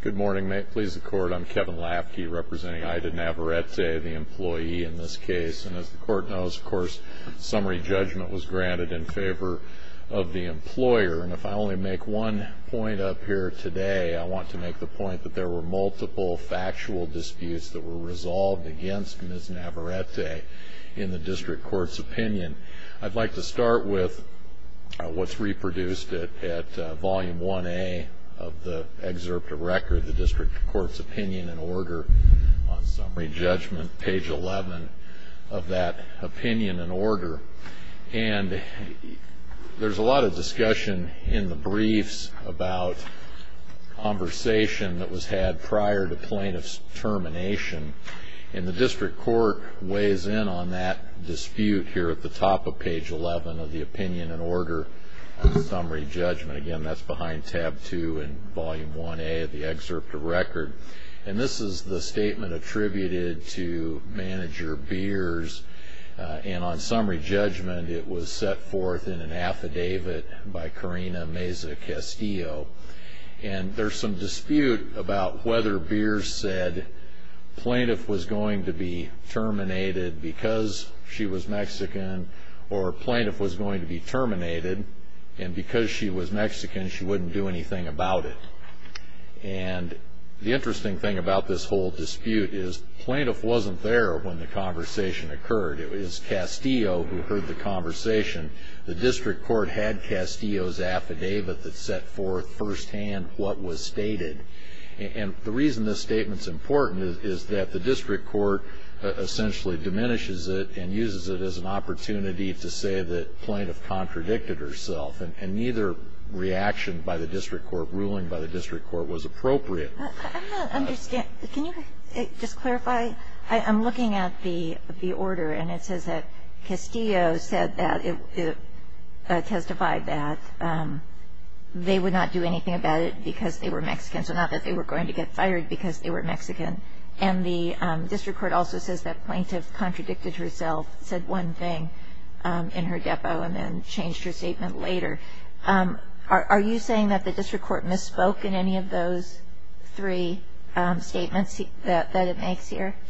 Good morning. May it please the Court, I'm Kevin Lafke representing Ida Navarrete, the employee in this case. And as the Court knows, of course, summary judgment was granted in favor of the employer. And if I only make one point up here today, I want to make the point that there were multiple factual disputes that were resolved against Ms. Navarrete in the District Court's opinion. I'd like to start with what's reproduced at Volume 1A of the excerpt of record, the District Court's opinion and order on summary judgment, page 11 of that opinion and order. And there's a lot of discussion in the briefs about conversation that was had prior to plaintiff's termination. And the District Court weighs in on that dispute here at the top of page 11 of the opinion and order on summary judgment. Again, that's behind tab 2 in Volume 1A of the excerpt of record. And this is the statement attributed to Manager Beers. And on summary judgment, it was set forth in an affidavit by Karina Meza Castillo. And there's some dispute about whether Beers said plaintiff was going to be terminated because she was Mexican or plaintiff was going to be terminated and because she was Mexican, she wouldn't do anything about it. And the interesting thing about this whole dispute is plaintiff wasn't there when the conversation occurred. It was Castillo who heard the conversation. The District Court had Castillo's affidavit that set forth firsthand what was stated. And the reason this statement's important is that the District Court essentially diminishes it and uses it as an opportunity to say that plaintiff contradicted herself. And neither reaction by the District Court, ruling by the District Court, was appropriate. MS. GOTTLIEB I don't understand. Can you just clarify? I'm looking at the order, and it says that Castillo testified that they would not do anything about it because they were Mexican, so not that they were going to get fired because they were Mexican. And the District Court also says that plaintiff contradicted herself, said one thing in her depo, and then said another. Are you saying that the District Court misspoke in any of those three statements that it makes here? MR. KESSLER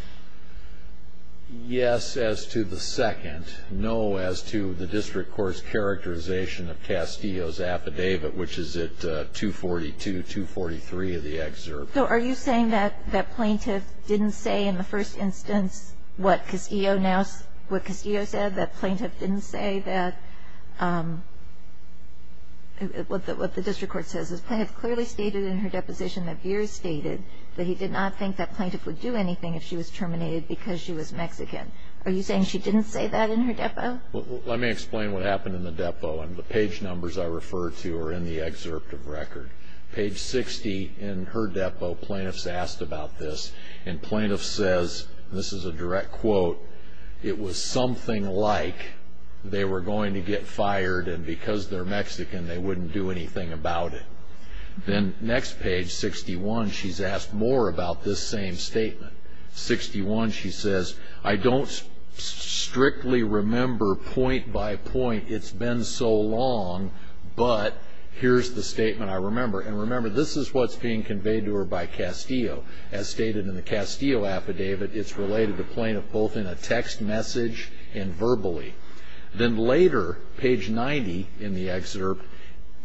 Yes, as to the second. No, as to the District Court's characterization of Castillo's affidavit, which is at 242-243 of the excerpt. MS. GOTTLIEB So are you saying that plaintiff didn't say in the first instance what Castillo now, what Castillo said, that plaintiff didn't say that, what the District Court says is plaintiff clearly stated in her deposition that Beers stated that he did not think that plaintiff would do anything if she was terminated because she was Mexican. Are you saying she didn't say that in her depo? MR. KESSLER Let me explain what happened in the depo. And the page numbers I refer to are in the excerpt of record. Page 60 in her depo, plaintiffs asked about this. And plaintiff says, this is a direct quote, it was something like they were going to get fired and because they're Mexican they wouldn't do anything about it. Then next page, 61, she's asked more about this same statement. 61, she says, I don't strictly remember point by point it's been so long, but here's the statement I remember. And remember, this is what's being conveyed to her by Castillo. As stated in the Castillo affidavit, it's related to plaintiff both in a text message and verbally. Then later, page 90 in the excerpt,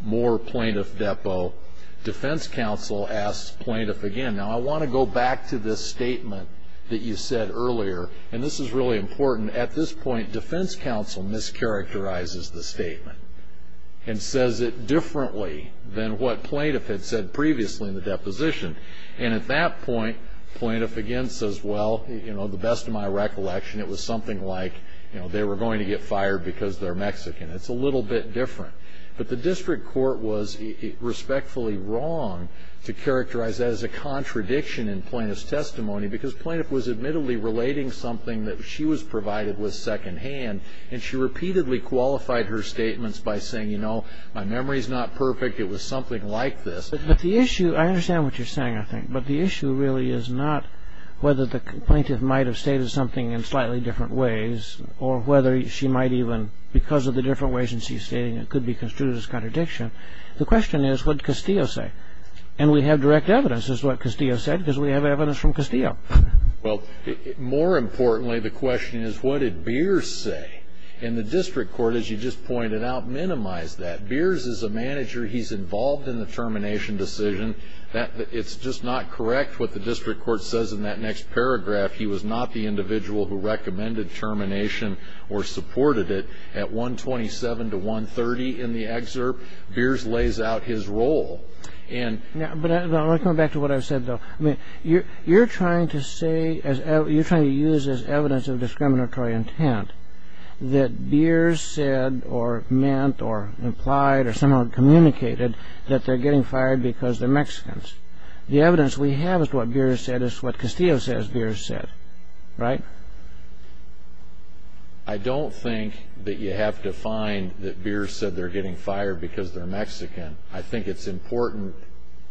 more plaintiff depo, defense counsel asks plaintiff again. Now I want to go back to this statement that you said earlier. And this is really important. At this point, defense counsel mischaracterizes the statement and says it differently than what plaintiff had said previously in the deposition. And at that point, plaintiff again says, well, you know, the best of my recollection it was something like they were going to get fired because they're Mexican. It's a little bit different. But the district court was respectfully wrong to characterize that as a contradiction in plaintiff's testimony because plaintiff was admittedly relating something that she was provided with second hand. And she repeatedly qualified her statements by saying, you know, my memory's not perfect. It was something like this. But the issue, I understand what you're saying, I think. But the issue really is not whether the plaintiff might have stated something in slightly different ways or whether she might even, because of the different ways in which she's stating it, could be construed as contradiction. The question is what Castillo say. And we have direct evidence is what Castillo said because we have evidence from Castillo. Well, more importantly, the question is what did Beers say? And the district court, as you just pointed out, minimized that. Beers is a manager. He's involved in the termination decision. It's just not correct what the district court says in that next paragraph. He was not the individual who recommended termination or supported it. At 127 to 130 in the excerpt, Beers lays out his role. But I want to come back to what I said, though. You're trying to say, you're trying to use as evidence of discriminatory intent that Beers said or meant or implied or somehow communicated that they're getting fired because they're Mexicans. The evidence we have as to what Beers said is what Castillo says Beers said, right? I don't think that you have to find that Beers said they're getting fired because they're Mexican. I think it's important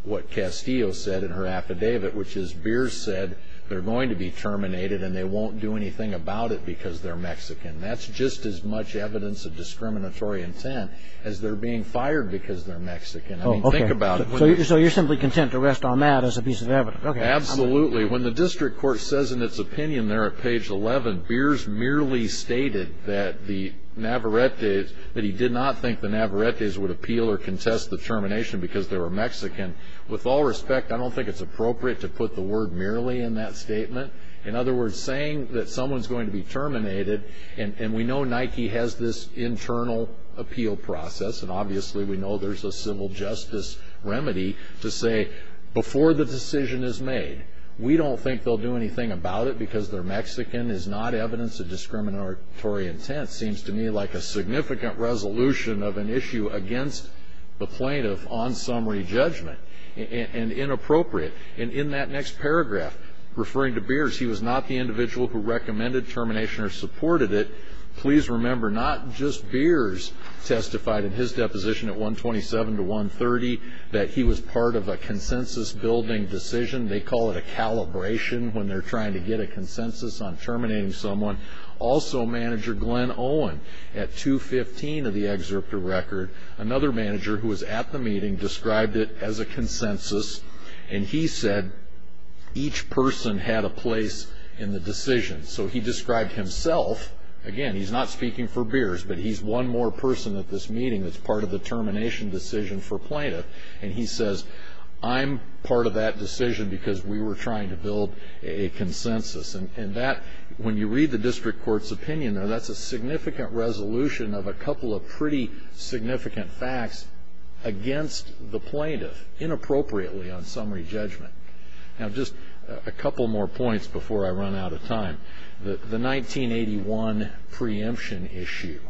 what Castillo said in her affidavit, which is Beers said they're going to be terminated and they won't do anything about it because they're Mexican. That's just as much evidence of discriminatory intent as they're being fired because they're Mexican. I mean, think about it. So you're simply content to rest on that as a piece of evidence. Absolutely. When the district court says in its opinion there at page 11, Beers merely stated that the Navarretes, that he did not think the Navarretes would appeal or contest the termination because they were Mexican. With all respect, I don't think it's appropriate to put the word merely in that statement. In other words, saying that someone's going to be terminated, and we know Nike has this internal appeal process, and obviously we know there's a civil justice remedy to say before the decision is made, we don't think they'll do anything about it because they're Mexican is not evidence of discriminatory intent. It seems to me like a significant resolution of an issue against the plaintiff on summary judgment, and inappropriate. In that next paragraph, referring to Beers, he was not the individual who recommended termination or supported it. Please remember, not just Beers testified in his deposition at 127 to 130, that he was part of a consensus building decision. They call it a calibration when they're trying to get a consensus on terminating someone. Also, Manager Glenn Owen at 215 of the excerpt of record, another manager who was at the meeting described it as a consensus, and he said each person had a place in the decision. He described himself, again he's not speaking for Beers, but he's one more person at this meeting that's part of the termination decision for plaintiff. He says, I'm part of that decision because we were trying to build a consensus. When you read the district court's opinion, that's a significant resolution of a couple of pretty significant facts against the plaintiff, inappropriately on summary judgment. Now, just a couple more points before I run out of time. The 1981 preemption issue.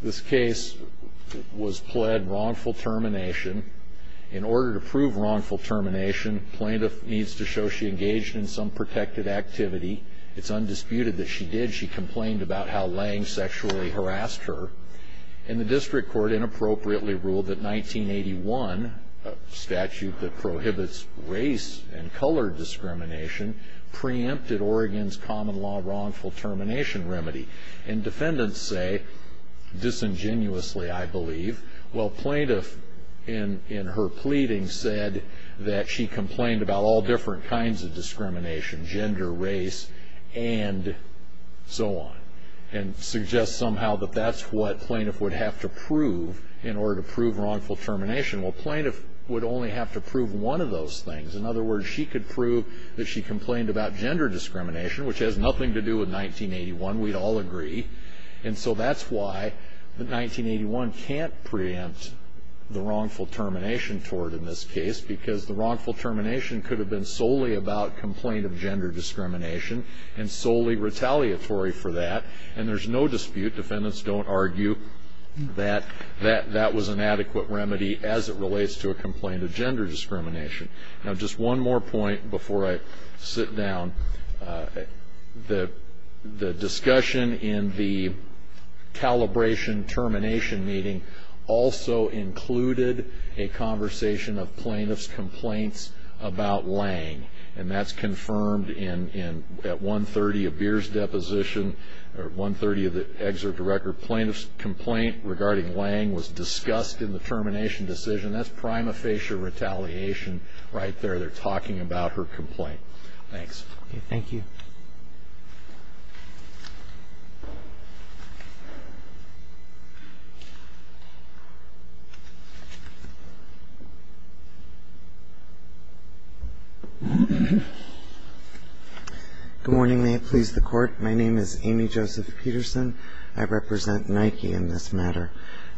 This case was pled wrongful termination. In order to prove wrongful termination, plaintiff needs to show she engaged in some protected activity. It's undisputed that she did. She complained about how Lange sexually harassed her, and the district court inappropriately ruled that race and color discrimination preempted Oregon's common law wrongful termination remedy. Defendants say, disingenuously I believe, plaintiff in her pleading said that she complained about all different kinds of discrimination, gender, race, and so on. Suggests somehow that that's what plaintiff would have to prove in order to prove wrongful termination. Plaintiff would only have to prove one of those things. In other words, she could prove that she complained about gender discrimination, which has nothing to do with 1981. We'd all agree. And so that's why the 1981 can't preempt the wrongful termination toward in this case, because the wrongful termination could have been solely about complaint of gender discrimination, and solely retaliatory for that. And there's no dispute. Defendants don't argue that that was an adequate remedy as it relates to a complaint of gender discrimination. Now, just one more point before I sit down. The discussion in the calibration termination meeting also included a conversation of plaintiff's complaints about Lange, and that's confirmed at 130 of Beer's deposition, or 130 of the Lange decision. That's prima facie retaliation right there. They're talking about her complaint. Thanks. Thank you. Good morning. May it please the Court. My name is Amy Joseph Peterson. I represent Nike in this matter.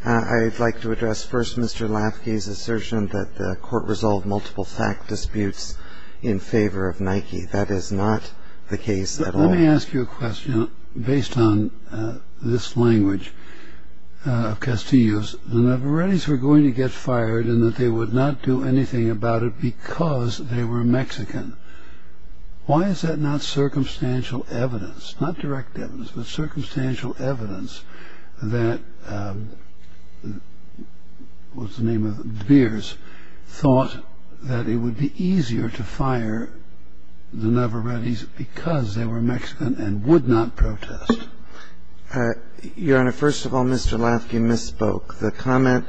I'd like to address first Mr. Lafky's assertion that the Court resolved multiple fact disputes in favor of Nike. That is not the case at all. Let me ask you a question based on this language of Castillo's. The Navarretes were going to get fired in that they would not do anything about it because they were Mexican. Why is that not circumstantial evidence, not direct evidence, but circumstantial evidence that what's the name of it, Beer's, thought that it would be easier to fire the Navarretes because they were Mexican and would not protest? Your Honor, first of all, Mr. Lafky misspoke. The comment,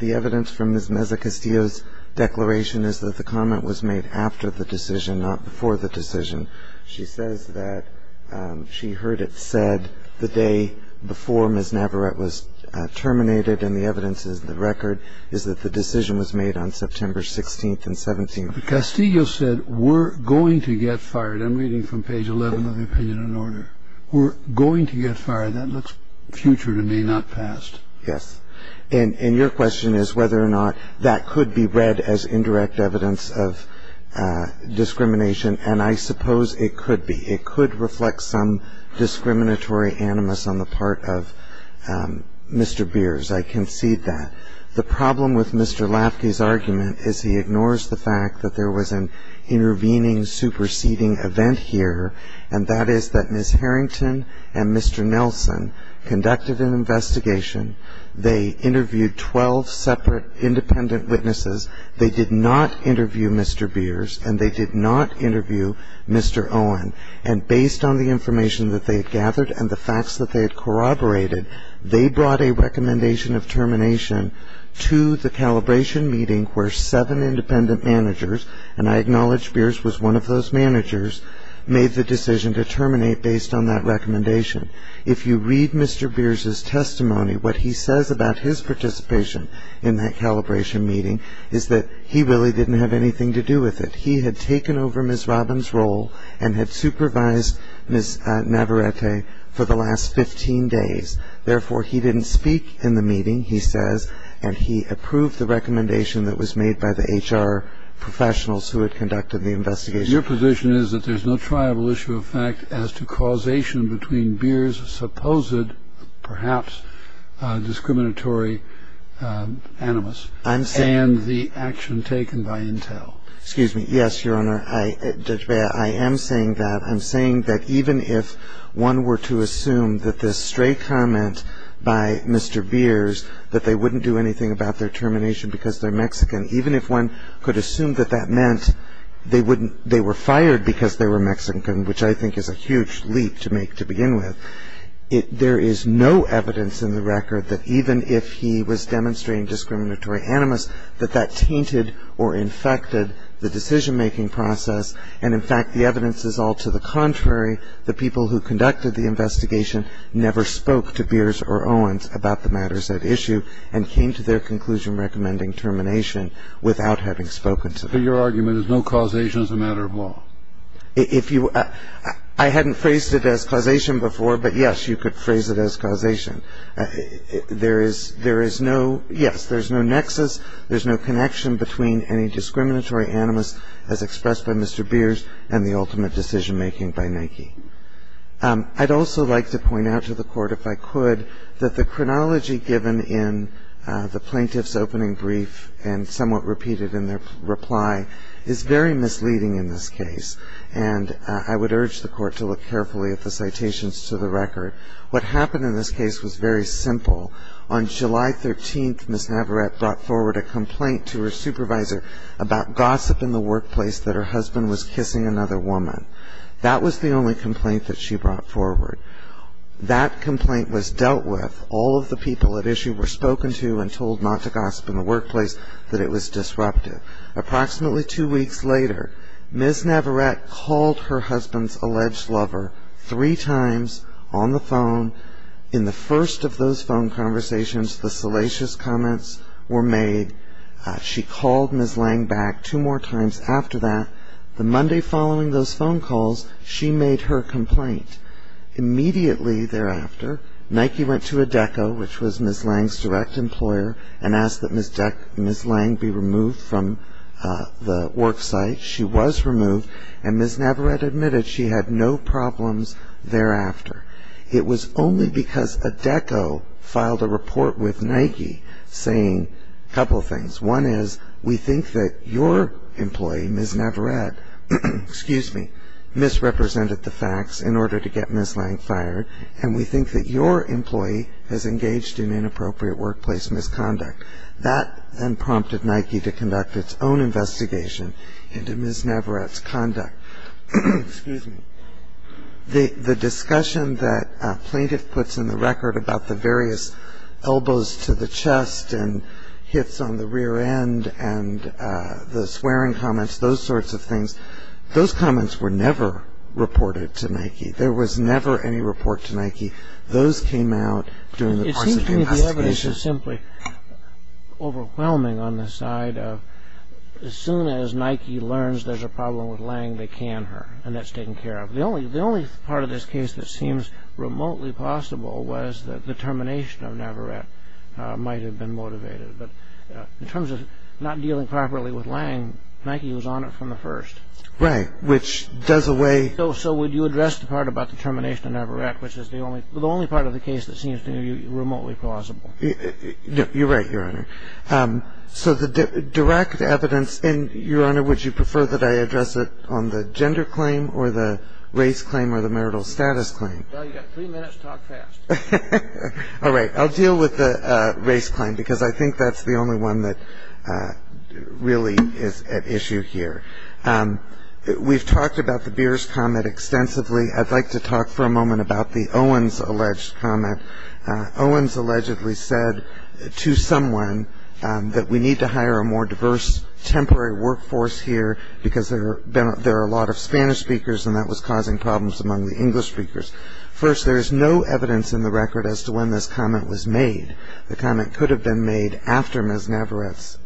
the evidence from Ms. Meza-Castillo's after the decision, not before the decision. She says that she heard it said the day before Ms. Navarrete was terminated, and the evidence is the record, is that the decision was made on September 16th and 17th. Castillo said we're going to get fired. I'm reading from page 11 of the opinion and order. We're going to get fired. That looks future to me, not past. Yes. And your question is whether or not that could be read as indirect evidence of discrimination, and I suppose it could be. It could reflect some discriminatory animus on the part of Mr. Beer's. I concede that. The problem with Mr. Lafky's argument is he ignores the fact that there was an intervening, superseding event here, and that is that Ms. Harrington and Mr. Nelson conducted an investigation. They interviewed 12 separate independent witnesses. They did not interview Mr. Beer's, and they did not interview Mr. Owen, and based on the information that they had gathered and the facts that they had corroborated, they brought a recommendation of termination to the calibration meeting where seven independent managers, and I acknowledge Beer's was one of those managers, made the decision to terminate based on that recommendation. If you read Mr. Beer's testimony, what he says about his participation in that calibration meeting is that he really didn't have anything to do with it. He had taken over Ms. Robbins' role and had supervised Ms. Navarrete for the last 15 days. Therefore, he didn't speak in the meeting, he says, and he approved the recommendation that was made by the HR professionals who had conducted the investigation. Your position is that there's no triable issue of fact as to causation between Beer's supposed, perhaps, discriminatory animus and the action taken by Intel. Excuse me. Yes, Your Honor. Judge Bea, I am saying that. I'm saying that even if one were to assume that this stray comment by Mr. Beer's, that they wouldn't do anything about their termination because they're Mexican, even if one could assume that that meant they wouldn't be fired because they were Mexican, which I think is a huge leap to make to begin with, there is no evidence in the record that even if he was demonstrating discriminatory animus, that that tainted or infected the decision-making process. And in fact, the evidence is all to the contrary. The people who conducted the investigation never spoke to Beer's or Owen's about the matters at issue and came to their conclusion recommending termination without having spoken to them. So your argument is no causation is a matter of law? If you – I hadn't phrased it as causation before, but yes, you could phrase it as causation. There is no – yes, there's no nexus, there's no connection between any discriminatory animus as expressed by Mr. Beer's and the ultimate decision-making by Nike. I'd also like to point out to the Court, if I could, that the chronology given in the misleading in this case, and I would urge the Court to look carefully at the citations to the record. What happened in this case was very simple. On July 13th, Ms. Navarette brought forward a complaint to her supervisor about gossip in the workplace that her husband was kissing another woman. That was the only complaint that she brought forward. That complaint was dealt with. All of the people at issue were spoken to and told not to gossip in the workplace, that it was disruptive. Approximately two weeks later, Ms. Navarette called her husband's alleged lover three times on the phone. In the first of those phone conversations, the salacious comments were made. She called Ms. Lange back two more times after that. The Monday following those phone calls, she made her complaint. Immediately thereafter, Nike went to a DECO, which was Ms. Lange's direct employer, and asked that Ms. Lange be removed from the work site. She was removed, and Ms. Navarette admitted she had no problems thereafter. It was only because a DECO filed a report with Nike saying a couple of things. One is, we think that your employee, Ms. Navarette, misrepresented the facts in order to get Ms. Lange fired, and we think that your employee has engaged in inappropriate workplace misconduct. That then prompted Nike to conduct its own investigation into Ms. Navarette's conduct. The discussion that a plaintiff puts in the record about the various elbows to the chest and hits on the rear end and the swearing comments, those sorts of things, those comments were never reported to Nike. There was never any report to Nike. Those came out during the course of the investigation. It seems to me the evidence is simply overwhelming on the side of, as soon as Nike learns there's a problem with Lange, they can her, and that's taken care of. The only part of this case that seems remotely possible was that the termination of Navarette might have been motivated. In terms of not dealing properly with Lange, Nike was on it from the first. Right. Which does away... So would you address the part about the termination of Navarette, which is the only part of the case that seems to me remotely plausible? You're right, Your Honor. So the direct evidence, and Your Honor, would you prefer that I address it on the gender claim or the race claim or the marital status claim? Well, you've got three minutes. Talk fast. All right. I'll deal with the race claim, because I think that's the only one that really is at issue here. We've talked about the Beers comment extensively. I'd like to talk for a moment about the Owens alleged comment. Owens allegedly said to someone that we need to hire a more diverse temporary workforce here, because there are a lot of Spanish speakers, and that was causing problems among the English speakers. First, there is no evidence in the record as to when this comment was made. The comment could have been made after Ms. Navarette's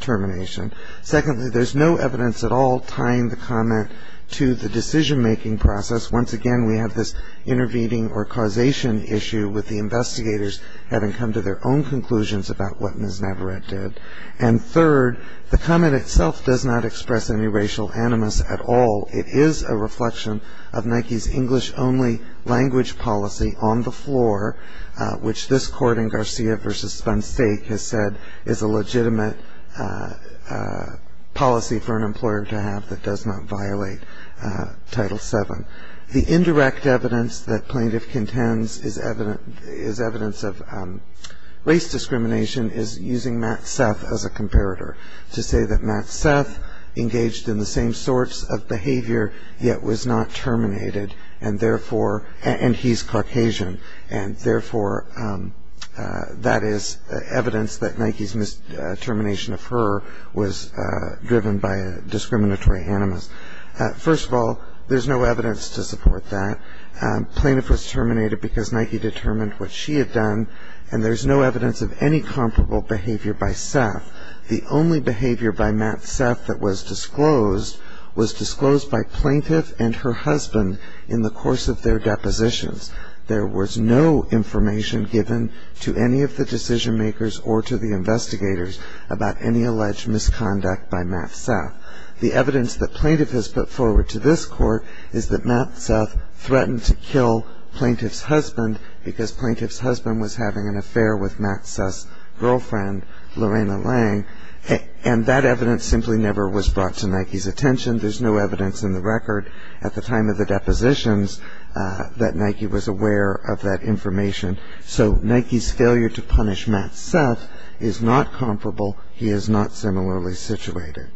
termination. Secondly, there's no evidence at all tying the comment to the decision-making process. Once again, we have this intervening or causation issue with the investigators having come to their own conclusions about what Ms. Navarette did. And third, the comment itself does not express any racial animus at all. It is a reflection of Nike's English-only language policy on the floor, which this Court in Garcia v. Spansteig has said is a legitimate policy for an employer to have that does not violate Title VII. The indirect evidence that plaintiff contends is evidence of race discrimination is using Matt Seth as a comparator to say that Matt Seth engaged in the same sorts of behavior yet was not terminated, and therefore, and he's Caucasian, and therefore, that is evidence that Nike's termination of her was driven by a discriminatory animus. First of all, there's no evidence to support that. Plaintiff was terminated because Nike determined what she had done, and there's no evidence of any comparable behavior by Seth. The only behavior by Matt Seth that was disclosed was disclosed by plaintiff and her husband in the course of their depositions. There was no information given to any of the decision-makers or to the investigators about any alleged misconduct by Matt Seth. The evidence that plaintiff has put forward to this Court is that Matt Seth threatened to kill plaintiff's husband because plaintiff's husband was having an affair with Matt Seth's girlfriend, Lorena Lang, and that evidence simply never was brought to Nike's attention. There's no evidence in the record at the time of the depositions that Nike was aware of that information. So is not comparable. He is not similarly situated.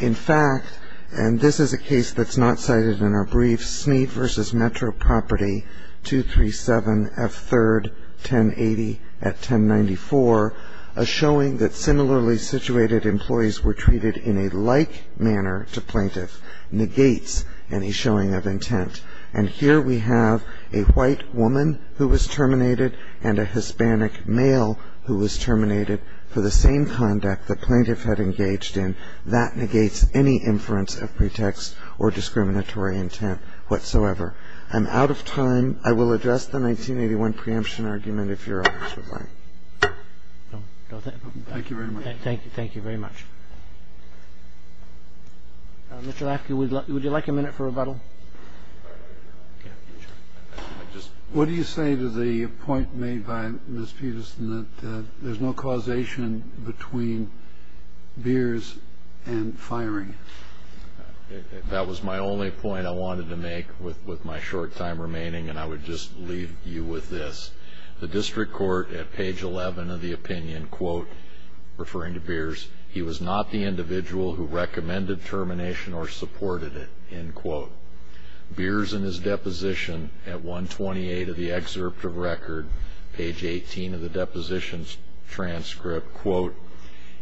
In fact, and this is a case that's not cited in our brief, Smead v. Metro Property, 237 F. 3rd, 1080 at 1094, a showing that similarly situated employees were treated in a like manner to plaintiff negates any showing of intent. And here we have a white woman who was terminated and a Hispanic male who was terminated for the same conduct the plaintiff had engaged in. That negates any inference of pretext or discriminatory intent whatsoever. I'm out of time. I will address the 1981 preemption argument if Your Honors would like. Thank you very much. Thank you very much. Mr. Lafky, would you like a minute for rebuttal? What do you say to the point made by Ms. Peterson that there's no causation between beers and firing? That was my only point I wanted to make with my short time remaining and I would just leave you with this. The district court at page 11 of the opinion, quote, referring to beers, he was not the individual who recommended termination or supported it, end quote. Beers in his deposition at 128 of the excerpt of record, page 18 of the depositions transcript, quote,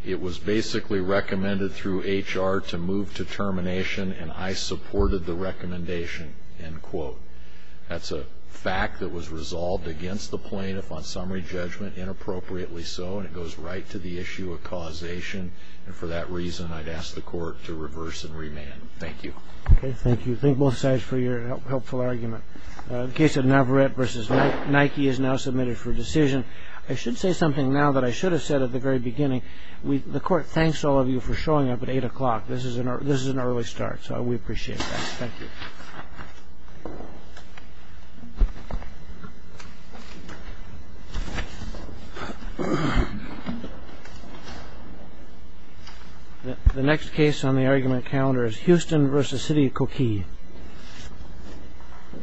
it was basically recommended through HR to move to termination and I supported the recommendation, end quote. That's a fact that was resolved against the plaintiff on the issue of causation and for that reason, I'd ask the court to reverse and remand. Thank you. Okay, thank you. Thank both sides for your helpful argument. The case of Navarette v. Nike is now submitted for decision. I should say something now that I should have said at the very beginning. The court thanks all of you for showing up at 8 o'clock. This is an early start, so we appreciate that. Thank you. The next case on the argument calendar is Houston v. City of Koki.